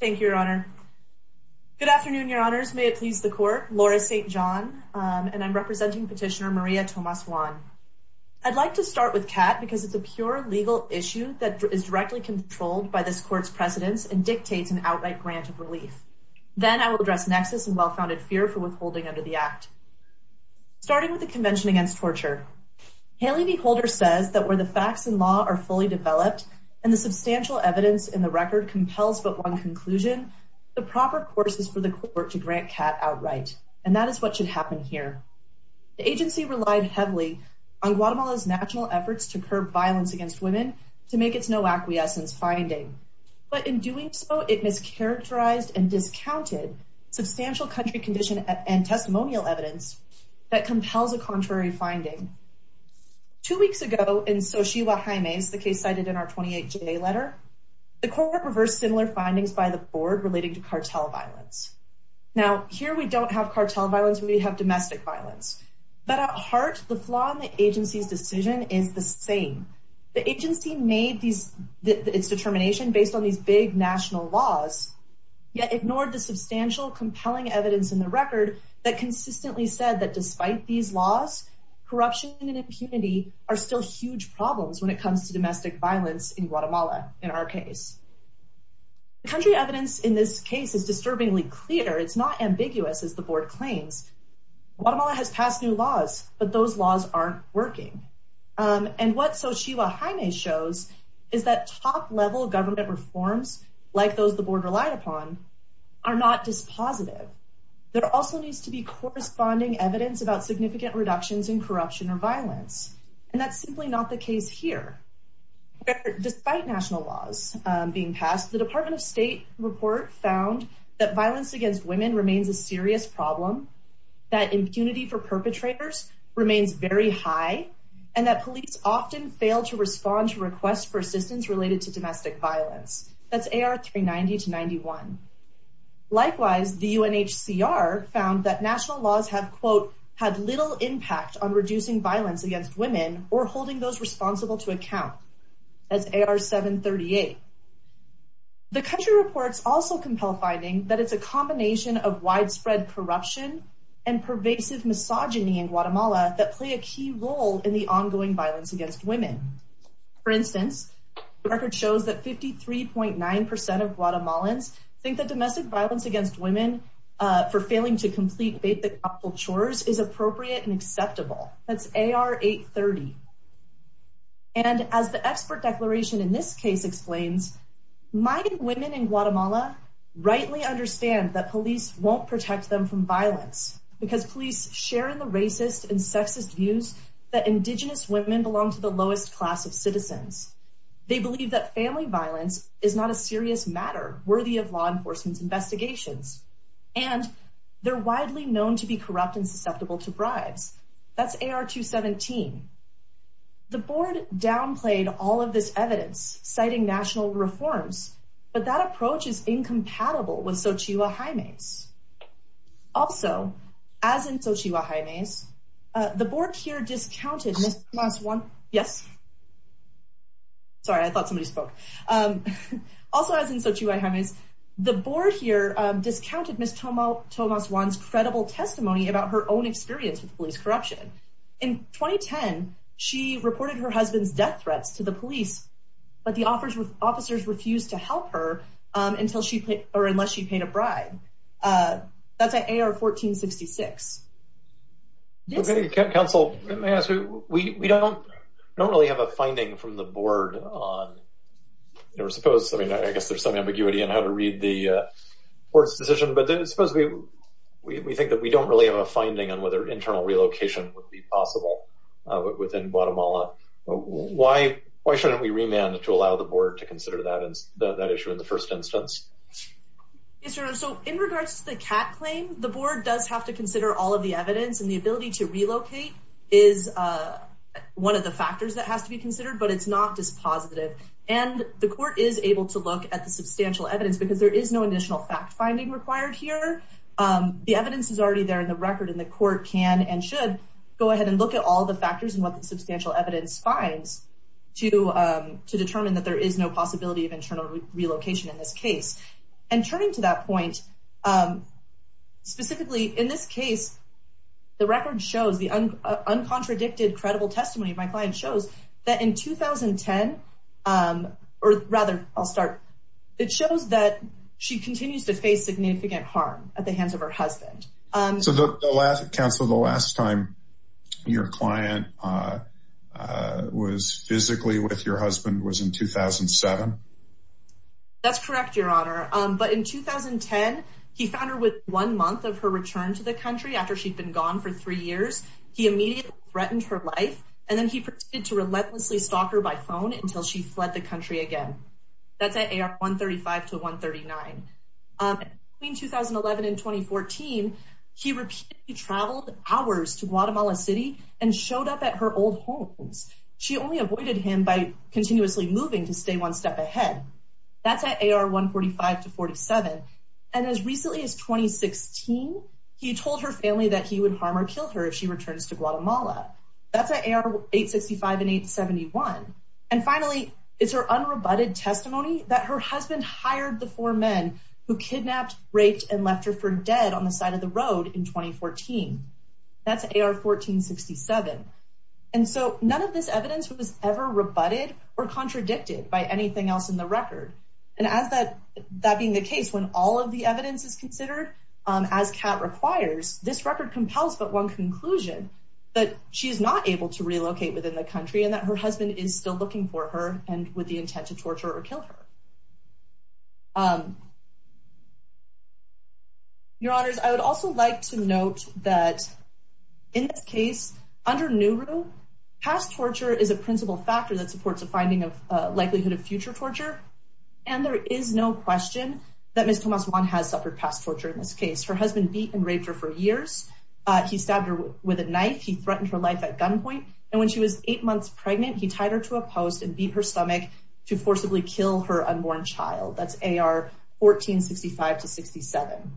Thank you, your honor. Good afternoon, your honors. May it please the court. Laura St. John and I'm representing petitioner Maria Tomas Juan. I'd like to start with CAT because it's a pure legal issue that is directly controlled by this court's precedents and dictates an outright grant of relief. Then I will address nexus and well-founded fear for withholding under the act. Starting with the Convention Against Torture, Haley V. Holder says that where the facts and record compels but one conclusion, the proper course is for the court to grant CAT outright, and that is what should happen here. The agency relied heavily on Guatemala's national efforts to curb violence against women to make its no acquiescence finding. But in doing so, it mischaracterized and discounted substantial country condition and testimonial evidence that compels a contrary finding. Two weeks ago in Xochitl Jimenez, the case cited in our 28-day letter, the court reversed similar findings by the board relating to cartel violence. Now, here we don't have cartel violence, we have domestic violence. But at heart, the flaw in the agency's decision is the same. The agency made its determination based on these big national laws, yet ignored the substantial compelling evidence in the record that consistently said that despite these laws, corruption and impunity are still huge problems when it comes to domestic violence in Guatemala, in our case. The country evidence in this case is disturbingly clear. It's not ambiguous, as the board claims. Guatemala has passed new laws, but those laws aren't working. And what Xochitl Jimenez shows is that top-level government reforms, like those the board relied upon, are not dispositive. There also needs to be corresponding evidence about significant reductions in corruption or violence. And that's simply not the case here. Despite national laws being passed, the Department of State report found that violence against women remains a serious problem, that impunity for perpetrators remains very high, and that police often fail to respond to requests for assistance related to domestic violence. That's AR 390-91. Likewise, the UNHCR found that national laws have, quote, had little impact on reducing violence against women or holding those responsible to account. That's AR 738. The country reports also compel finding that it's a combination of widespread corruption and pervasive misogyny in Guatemala that play a key role in the ongoing violence against women. For instance, the record shows that 53.9 percent of basic household chores is appropriate and acceptable. That's AR 830. And as the expert declaration in this case explains, mighty women in Guatemala rightly understand that police won't protect them from violence because police share in the racist and sexist views that indigenous women belong to the lowest class of citizens. They believe that family violence is not a serious matter worthy of law enforcement's investigations, and they're widely known to be corrupt and susceptible to bribes. That's AR 217. The board downplayed all of this evidence, citing national reforms, but that approach is incompatible with Xochitl Jaimes. Also, as in Xochitl Jaimes, the board here discounted... Yes? Sorry, I thought somebody spoke. Also, as in Xochitl Jaimes, the board here discounted Ms. Tomas Juan's credible testimony about her own experience with police corruption. In 2010, she reported her husband's death threats to the police, but the officers refused to help her unless she paid a bribe. That's AR 1466. Council, let me ask you, we don't really have a finding from the board on... I guess there's some ambiguity in how to read the board's decision, but suppose we think that we don't really have a finding on whether internal relocation would be possible within Guatemala. Why shouldn't we remand to allow the board to consider that issue in the first instance? Yes, Your Honor, so in regards to the CAT claim, the board does have to consider all of the evidence, and the ability to relocate is one of the factors that has to be considered, but it's not dispositive. And the court is able to look at the substantial evidence, because there is no additional fact-finding required here. The evidence is already there in the record, and the court can and should go ahead and look at all the factors and what the case. And turning to that point, specifically in this case, the record shows, the uncontradicted, credible testimony of my client shows that in 2010, or rather, I'll start, it shows that she continues to face significant harm at the hands of her husband. So, Council, the last time your client was physically with your husband was in 2007? That's correct, Your Honor. But in 2010, he found her with one month of her return to the country after she'd been gone for three years. He immediately threatened her life, and then he proceeded to relentlessly stalk her by phone until she fled the country again. That's at AR 135 to 139. Between 2011 and 2014, he repeatedly traveled hours to Guatemala City and showed up at her old homes. She only avoided him by continuously moving to stay one step ahead. That's at AR 145 to 47. And as recently as 2016, he told her family that he would harm or kill her if she returns to Guatemala. That's at AR 865 and 871. And finally, it's her unrebutted testimony that her husband hired the road in 2014. That's AR 1467. And so, none of this evidence was ever rebutted or contradicted by anything else in the record. And as that being the case, when all of the evidence is considered, as CAT requires, this record compels but one conclusion, that she's not able to relocate within the country and that her husband is still looking for her and with the intent to torture or kill her. Your honors, I would also like to note that in this case, under NURU, past torture is a principal factor that supports a finding of likelihood of future torture. And there is no question that Ms. Tomas Juan has suffered past torture in this case. Her husband beat and raped her for years. He stabbed her with a knife. He threatened her life at gunpoint. And when she was eight months pregnant, he tied her to a post and beat her stomach to forcibly kill her unborn child. That's AR 1465-67.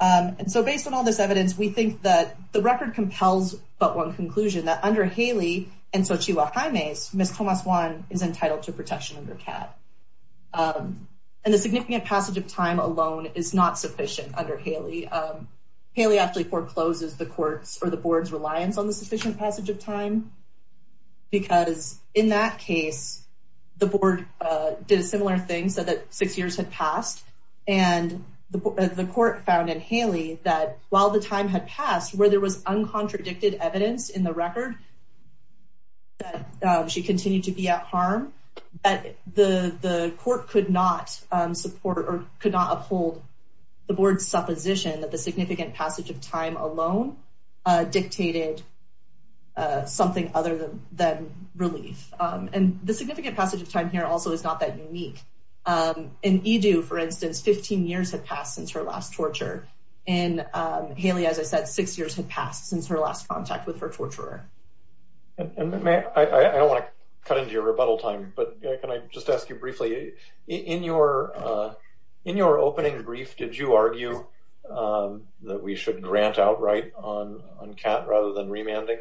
And so, based on all this evidence, we think that the record compels but one conclusion, that under Haley and Xochitl Jimenez, Ms. Tomas Juan is entitled to protection under CAT. And the significant passage of time alone is not sufficient under Haley. Haley actually forecloses the court's or the board's reliance on the sufficient passage of time. Because in that case, the board did a similar thing, said that six years had passed. And the court found in Haley that while the time had passed, where there was uncontradicted evidence in the record that she continued to be at harm, that the court could not support or could not uphold the board's supposition that the significant passage of time alone dictated something other than relief. And the significant passage of time here also is not that unique. In Edu, for instance, 15 years had passed since her last torture. And Haley, as I said, six years had passed since her last contact with her torturer. And I don't want to cut into your rebuttal time, but can I just ask you briefly, in your opening brief, did you argue that we should grant outright on CAT rather than remanding?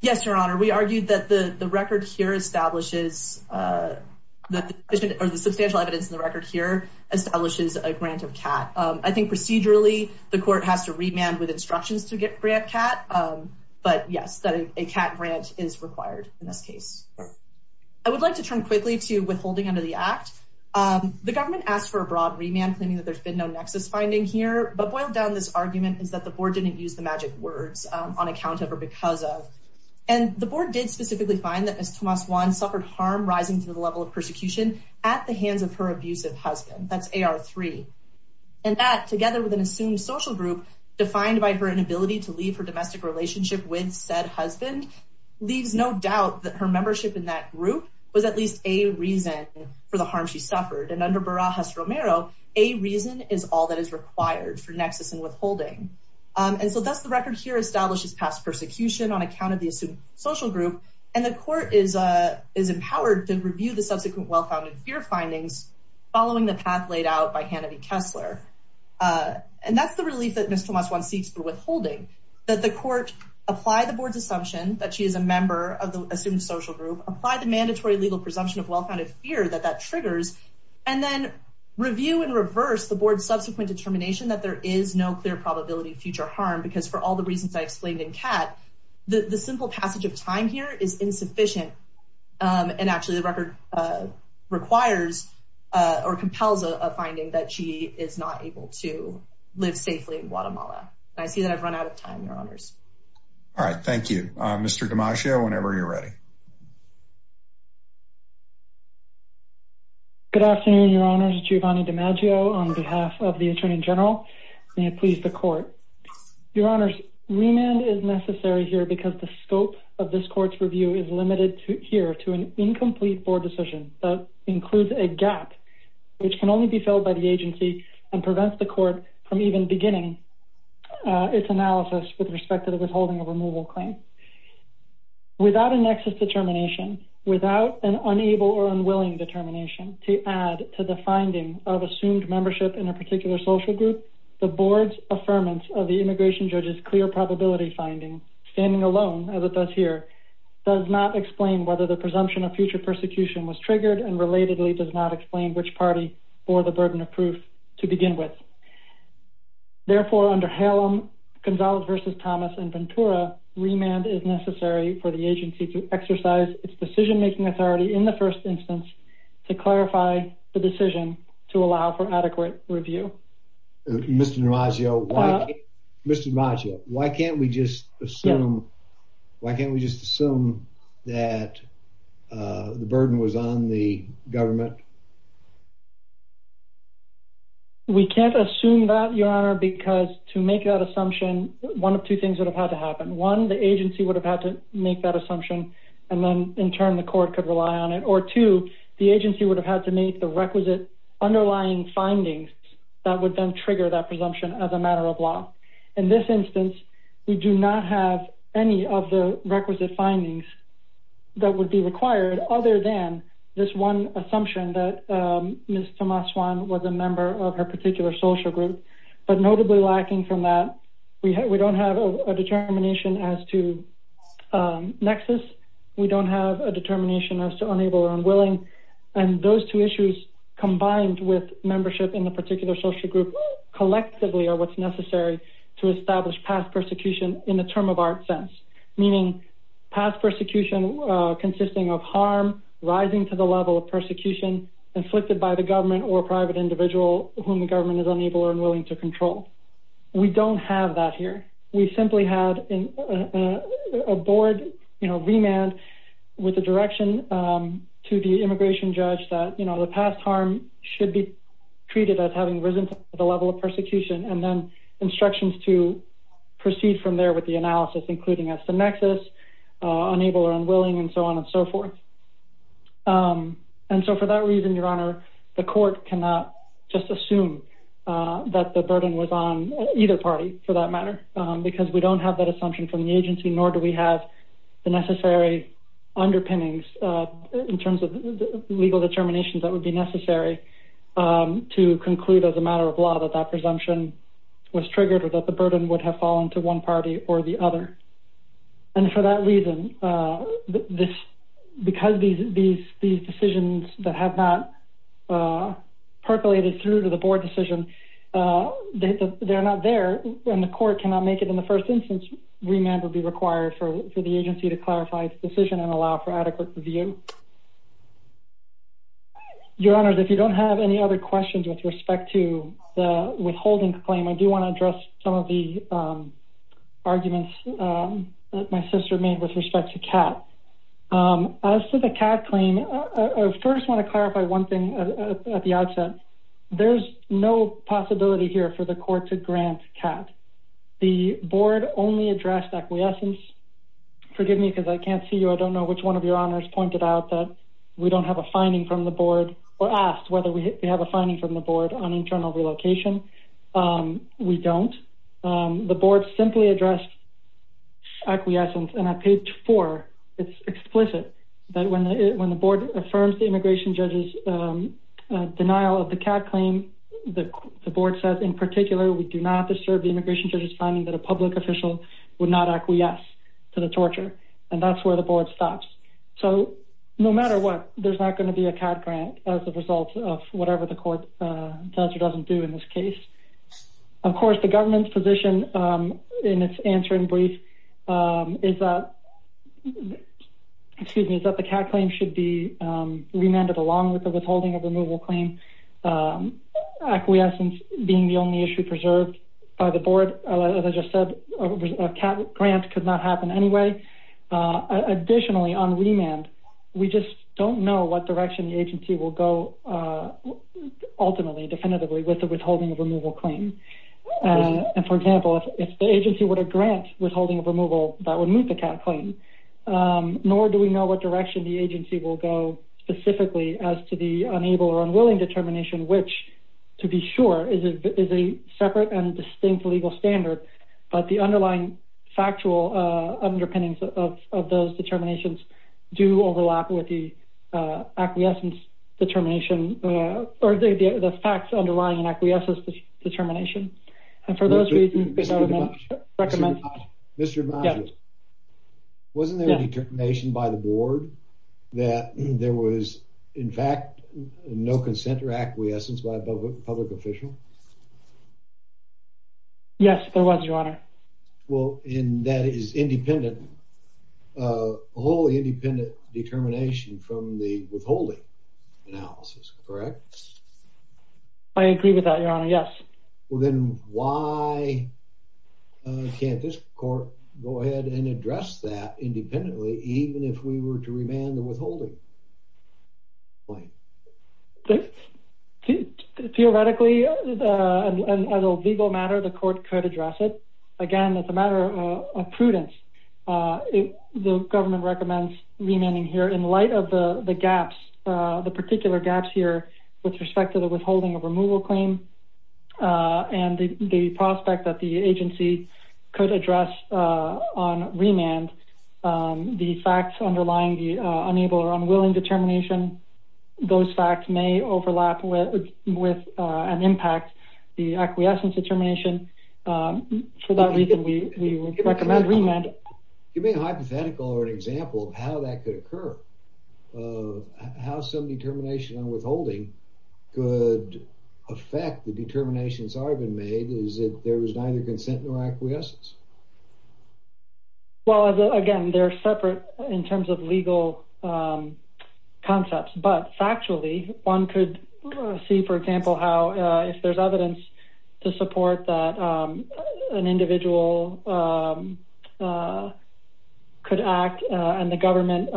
Yes, Your Honor. We argued that the record here establishes, or the substantial evidence in the record here, establishes a grant of CAT. I think procedurally, the court has to remand with instructions to grant CAT. But yes, a CAT grant is required in this case. I would like to turn quickly to withholding of the act. The government asked for a broad remand, claiming that there's been no nexus finding here. But boiled down, this argument is that the board didn't use the magic words on account of or because of. And the board did specifically find that Ms. Tomas Juan suffered harm rising to the level of persecution at the hands of her abusive husband. That's AR3. And that, together with an assumed social group defined by her inability to leave her domestic relationship with said husband, leaves no doubt that her membership in that group was at least a reason for the harm she suffered. And under Barajas-Romero, a reason is all that is required for nexus and withholding. And so thus, the record here establishes past persecution on account of the assumed social group. And the court is empowered to review the subsequent well-founded fear findings following the path laid out by Hannity Kessler. And that's the relief that Ms. Tomas Juan seeks for withholding, that the court apply the board's assumption that she is a member of the assumed social group, apply the mandatory legal presumption of well-founded fear that that triggers, and then review and reverse the board's subsequent determination that there is no clear probability of future harm. Because for all the reasons I explained in CAT, the simple passage of time here is insufficient. And actually, the record requires or compels a finding that she is not able to live safely in Guatemala. I see that I've run out of time, Your Honors. All right. Thank you. Mr. DiMaggio, whenever you're ready. Good afternoon, Your Honors. Giovanni DiMaggio on behalf of the Attorney General. May it please the court. Your Honors, remand is necessary here because the scope of this court's review is limited here to an incomplete board decision that includes a gap which can only be filled by the perspective of withholding a removal claim. Without a nexus determination, without an unable or unwilling determination to add to the finding of assumed membership in a particular social group, the board's affirmance of the immigration judge's clear probability finding, standing alone as it does here, does not explain whether the presumption of future persecution was triggered and relatedly does not explain which party bore the burden of proof to begin with. Therefore, under Halem, Gonzales v. Thomas, and Ventura, remand is necessary for the agency to exercise its decision-making authority in the first instance to clarify the decision to allow for adequate review. Mr. DiMaggio, why can't we just assume that the burden was on the government? We can't assume that, Your Honor, because to make that assumption, one of two things would have had to happen. One, the agency would have had to make that assumption and then, in turn, the court could rely on it. Or two, the agency would have had to make the requisite underlying findings that would then trigger that presumption as a matter of law. In this instance, we do not have any of the Ms. Thomas-Swan was a member of her particular social group, but notably lacking from that, we don't have a determination as to nexus. We don't have a determination as to unable or unwilling. Those two issues combined with membership in the particular social group collectively are what's necessary to establish past persecution in the term of art sense, meaning past persecution consisting of harm, rising to the level of persecution inflicted by the government or private individual whom the government is unable or unwilling to control. We don't have that here. We simply had a board remand with a direction to the immigration judge that the past harm should be treated as having risen to the level of persecution and then instructions to proceed from there with the analysis, including as the nexus, unable or unwilling, and so on and so forth. So for that reason, Your Honor, the court cannot just assume that the burden was on either party for that matter because we don't have that assumption from the agency, nor do we have the necessary underpinnings in terms of legal determinations that would be necessary to conclude as a matter of law that that presumption was triggered or that the burden would have fallen to one party or the other. And for that reason, because these decisions that have not percolated through to the board decision, they're not there and the court cannot make it in the first instance remand would be required for the agency to clarify its decision and allow for adequate review. Your Honor, if you don't have any other questions with respect to the withholding claim, I do want to address some of the arguments that my sister made with respect to CAT. As for the CAT claim, I first want to clarify one thing at the outset. There's no possibility here for the court to grant CAT. The board only addressed acquiescence. Forgive me because I can't see you. I don't know which one of your honors pointed out that we don't have a finding from the board or asked whether we have a finding from the board on internal relocation. We don't. The board simply addressed acquiescence. And at page four, it's explicit that when the board affirms the immigration judge's denial of the CAT claim, the board says, in particular, we do not disturb the immigration judge's finding that a public official would not acquiesce to the torture. And that's where the board stops. So no matter what, there's not going to be a CAT grant as a result of whatever the court does or doesn't do in this case. Of course, the government's position in its answer in brief is that the CAT claim should be remanded along with the withholding of removal claim, acquiescence being the only issue preserved by the board. As I just said, a CAT grant could not happen anyway. Additionally, on remand, we just don't know what direction the agency will go ultimately, definitively with the withholding of removal claim. And for example, if the agency were to grant withholding of removal, that would move the CAT claim. Nor do we know what direction the agency will go specifically as to the unable or unwilling determination, which to be sure is a separate and distinct legal standard. But the underlying factual underpinnings of those determinations do overlap with the acquiescence determination or the facts underlying an acquiescence determination. Wasn't there a determination by the board that there was, in fact, no consent or acquiescence by a public official? Yes, there was, Your Honor. Well, and that is independent, a wholly independent determination from the withholding analysis, correct? I agree with that, Your Honor, yes. Well, then why can't this court go ahead and address that theoretically as a legal matter, the court could address it. Again, as a matter of prudence, the government recommends remanding here in light of the gaps, the particular gaps here with respect to the withholding of removal claim and the prospect that the agency could address on remand, the facts underlying the unable or unwilling determination, those facts may overlap with and impact the acquiescence determination. For that reason, we recommend remand. Give me a hypothetical or an example of how that could occur, how some determination on withholding could affect the determinations that have been made, is it there was neither consent nor acquiescence? Well, again, they're separate in terms of legal concepts, but factually, one could see, for example, how if there's evidence to support that an individual could act and the government,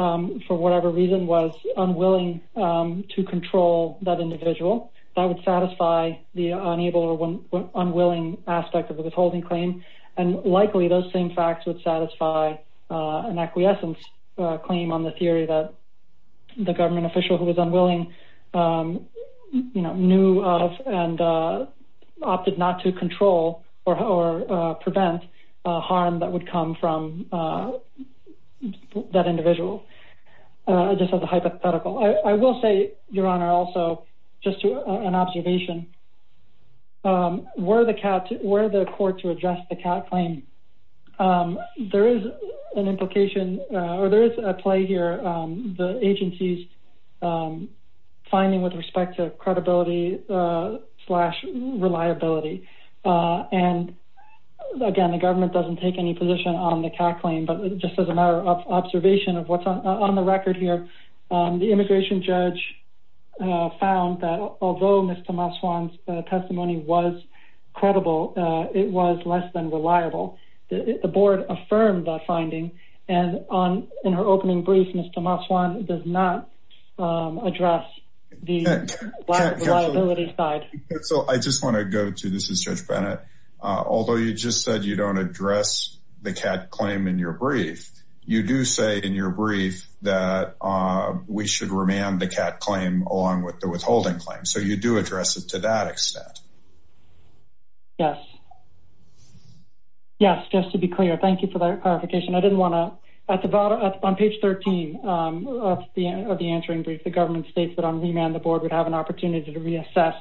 for whatever reason, was unwilling to control that individual, that would satisfy the unable or unwilling aspect of the withholding claim. And likely, those same facts would satisfy an acquiescence claim on the theory that the government official who was unwilling, you know, knew of and opted not to control or prevent harm that would come from that individual. Just as a hypothetical, I will say, Your Honor, also, just to an observation, were the court to address the CAT claim, there is an implication or there is a play here, the agency's finding with respect to credibility slash reliability. And again, the government doesn't take any position on the CAT claim. But just as a matter of observation of what's on the record here, the immigration judge found that although Ms. Tomaswan's testimony was credible, it was less than reliable. The board affirmed that finding. And in her opening brief, Ms. Tomaswan does not address the black reliability side. So I just want to go to, this is Judge Bennett, although you just said you don't address the CAT claim in your brief, you do say in your brief that we should remand the CAT claim along with the withholding claim. So you do address it to that extent. Yes. Yes, just to be clear. Thank you for that clarification. I didn't want to, at the bottom, on page 13 of the answering brief, the government states that on remand, the board would have an opportunity to reassess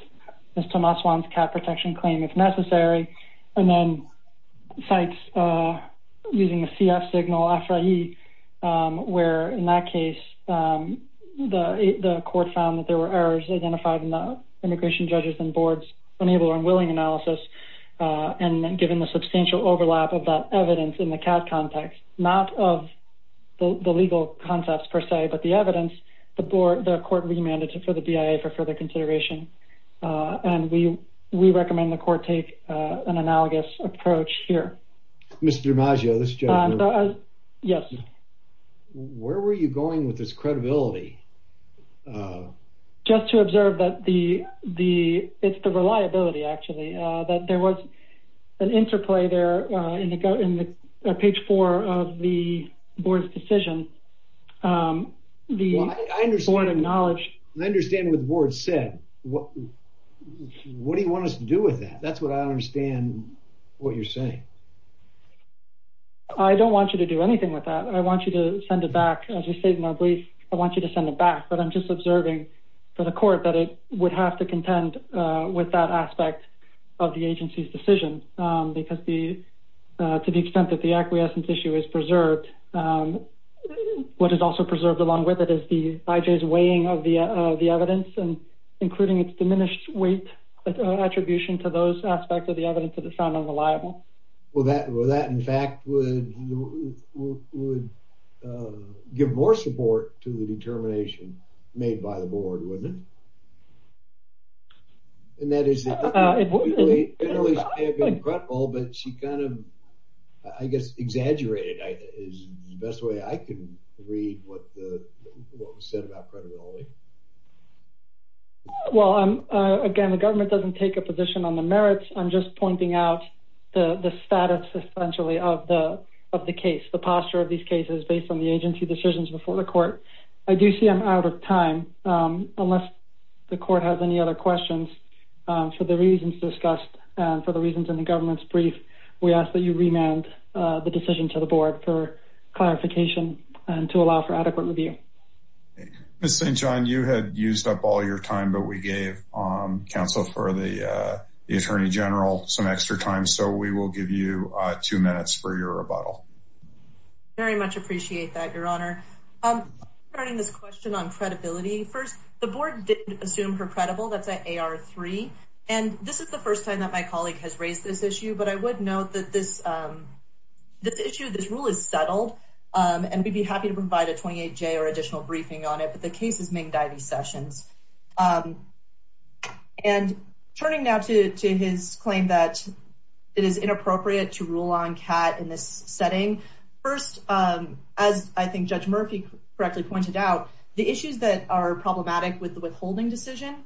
Ms. Tomaswan's CAT protection claim if necessary. And then cites, using the CF signal, AFRAE, where in that case, the court found that there were errors identified in the immigration judges and boards' unable and unwilling analysis. And given the substantial overlap of that evidence in the CAT context, not of the legal concepts per se, but the evidence, the court remanded for the BIA for further consideration. And we recommend the court take an analogous approach here. Mr. DiMaggio, this is Judge Bennett. Yes. Where were you going with this credibility? Just to observe that the, it's the reliability, actually, that there was an interplay there in the page four of the board's decision. Well, I understand what the board said. What do you want us to do with that? That's what I understand what you're saying. I don't want you to do anything with that. I want you to send it back. As we stated in our brief, I want you to send it back. But I'm just observing for the court that it would have to contend with that aspect of the agency's decision, because to the extent that the acquiescence issue is preserved, what is also preserved along with it is the IJ's weighing of the evidence and including its diminished weight attribution to those aspects of the evidence that is found unreliable. Well, that in fact would give more support to the determination made by the board, wouldn't it? And that is, it may have been credible, but she kind of, I guess, exaggerated is the best way I can read what was said about credibility. Well, again, the government doesn't take a position on the merits. I'm just pointing out the status, essentially, of the case, the posture of these cases based on the agency decisions before the court. I do see I'm out of time. Unless the court has any other questions for the reasons discussed, for the reasons in the government's brief, we ask that you remand the decision to the board for clarification and to allow for adequate review. Ms. St. John, you had used up all your time, but we gave counsel for the Attorney General some extra time. So we will give you two minutes for rebuttal. Very much appreciate that, Your Honor. Turning this question on credibility, first, the board didn't assume her credible. That's at AR3. And this is the first time that my colleague has raised this issue, but I would note that this issue, this rule is settled, and we'd be happy to provide a 28-J or additional briefing on it, but the case is Ming Divey Sessions. And turning now to his claim that it is inappropriate to rule on CAT in this setting, first, as I think Judge Murphy correctly pointed out, the issues that are problematic with the withholding decision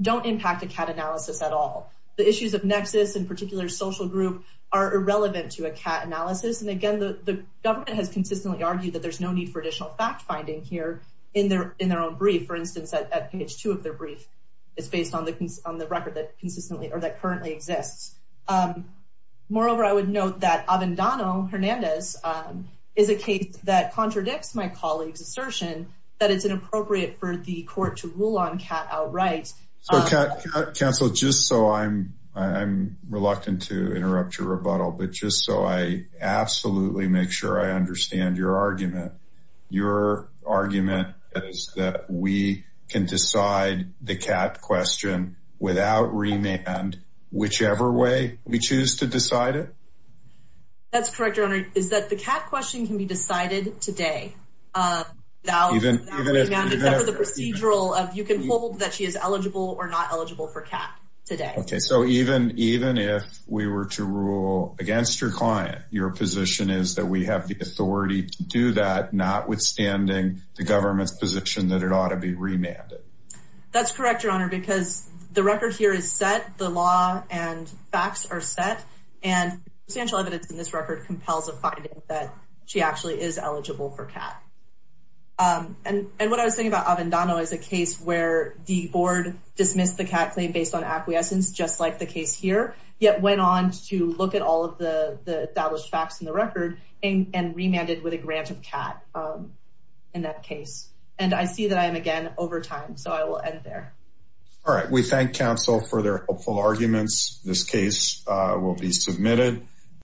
don't impact a CAT analysis at all. The issues of nexus and particular social group are irrelevant to a CAT analysis, and again, the government has consistently argued that there's need for additional fact-finding here in their own brief. For instance, at page two of their brief, it's based on the record that currently exists. Moreover, I would note that Avendano Hernandez is a case that contradicts my colleague's assertion that it's inappropriate for the court to rule on CAT outright. Counsel, just so I'm reluctant to interrupt your rebuttal, but just so I absolutely make sure I understand your argument, your argument is that we can decide the CAT question without remand, whichever way we choose to decide it? That's correct, Your Honor, is that the CAT question can be decided today without remand, except for the procedural of you can hold that she is eligible or not eligible for CAT today. Okay, so even if we were to rule against your client, your position is that we have the authority to do that, notwithstanding the government's position that it ought to be remanded. That's correct, Your Honor, because the record here is set, the law and facts are set, and substantial evidence in this record compels a finding that she actually is eligible for CAT. And what I was thinking about Avendano is a case where the board dismissed the CAT claim based on acquiescence, just like the case here, yet went on to look at all of the established facts in the record and remanded with a grant of CAT in that case. And I see that I am again over time, so I will end there. All right, we thank counsel for their helpful arguments. This case will be submitted.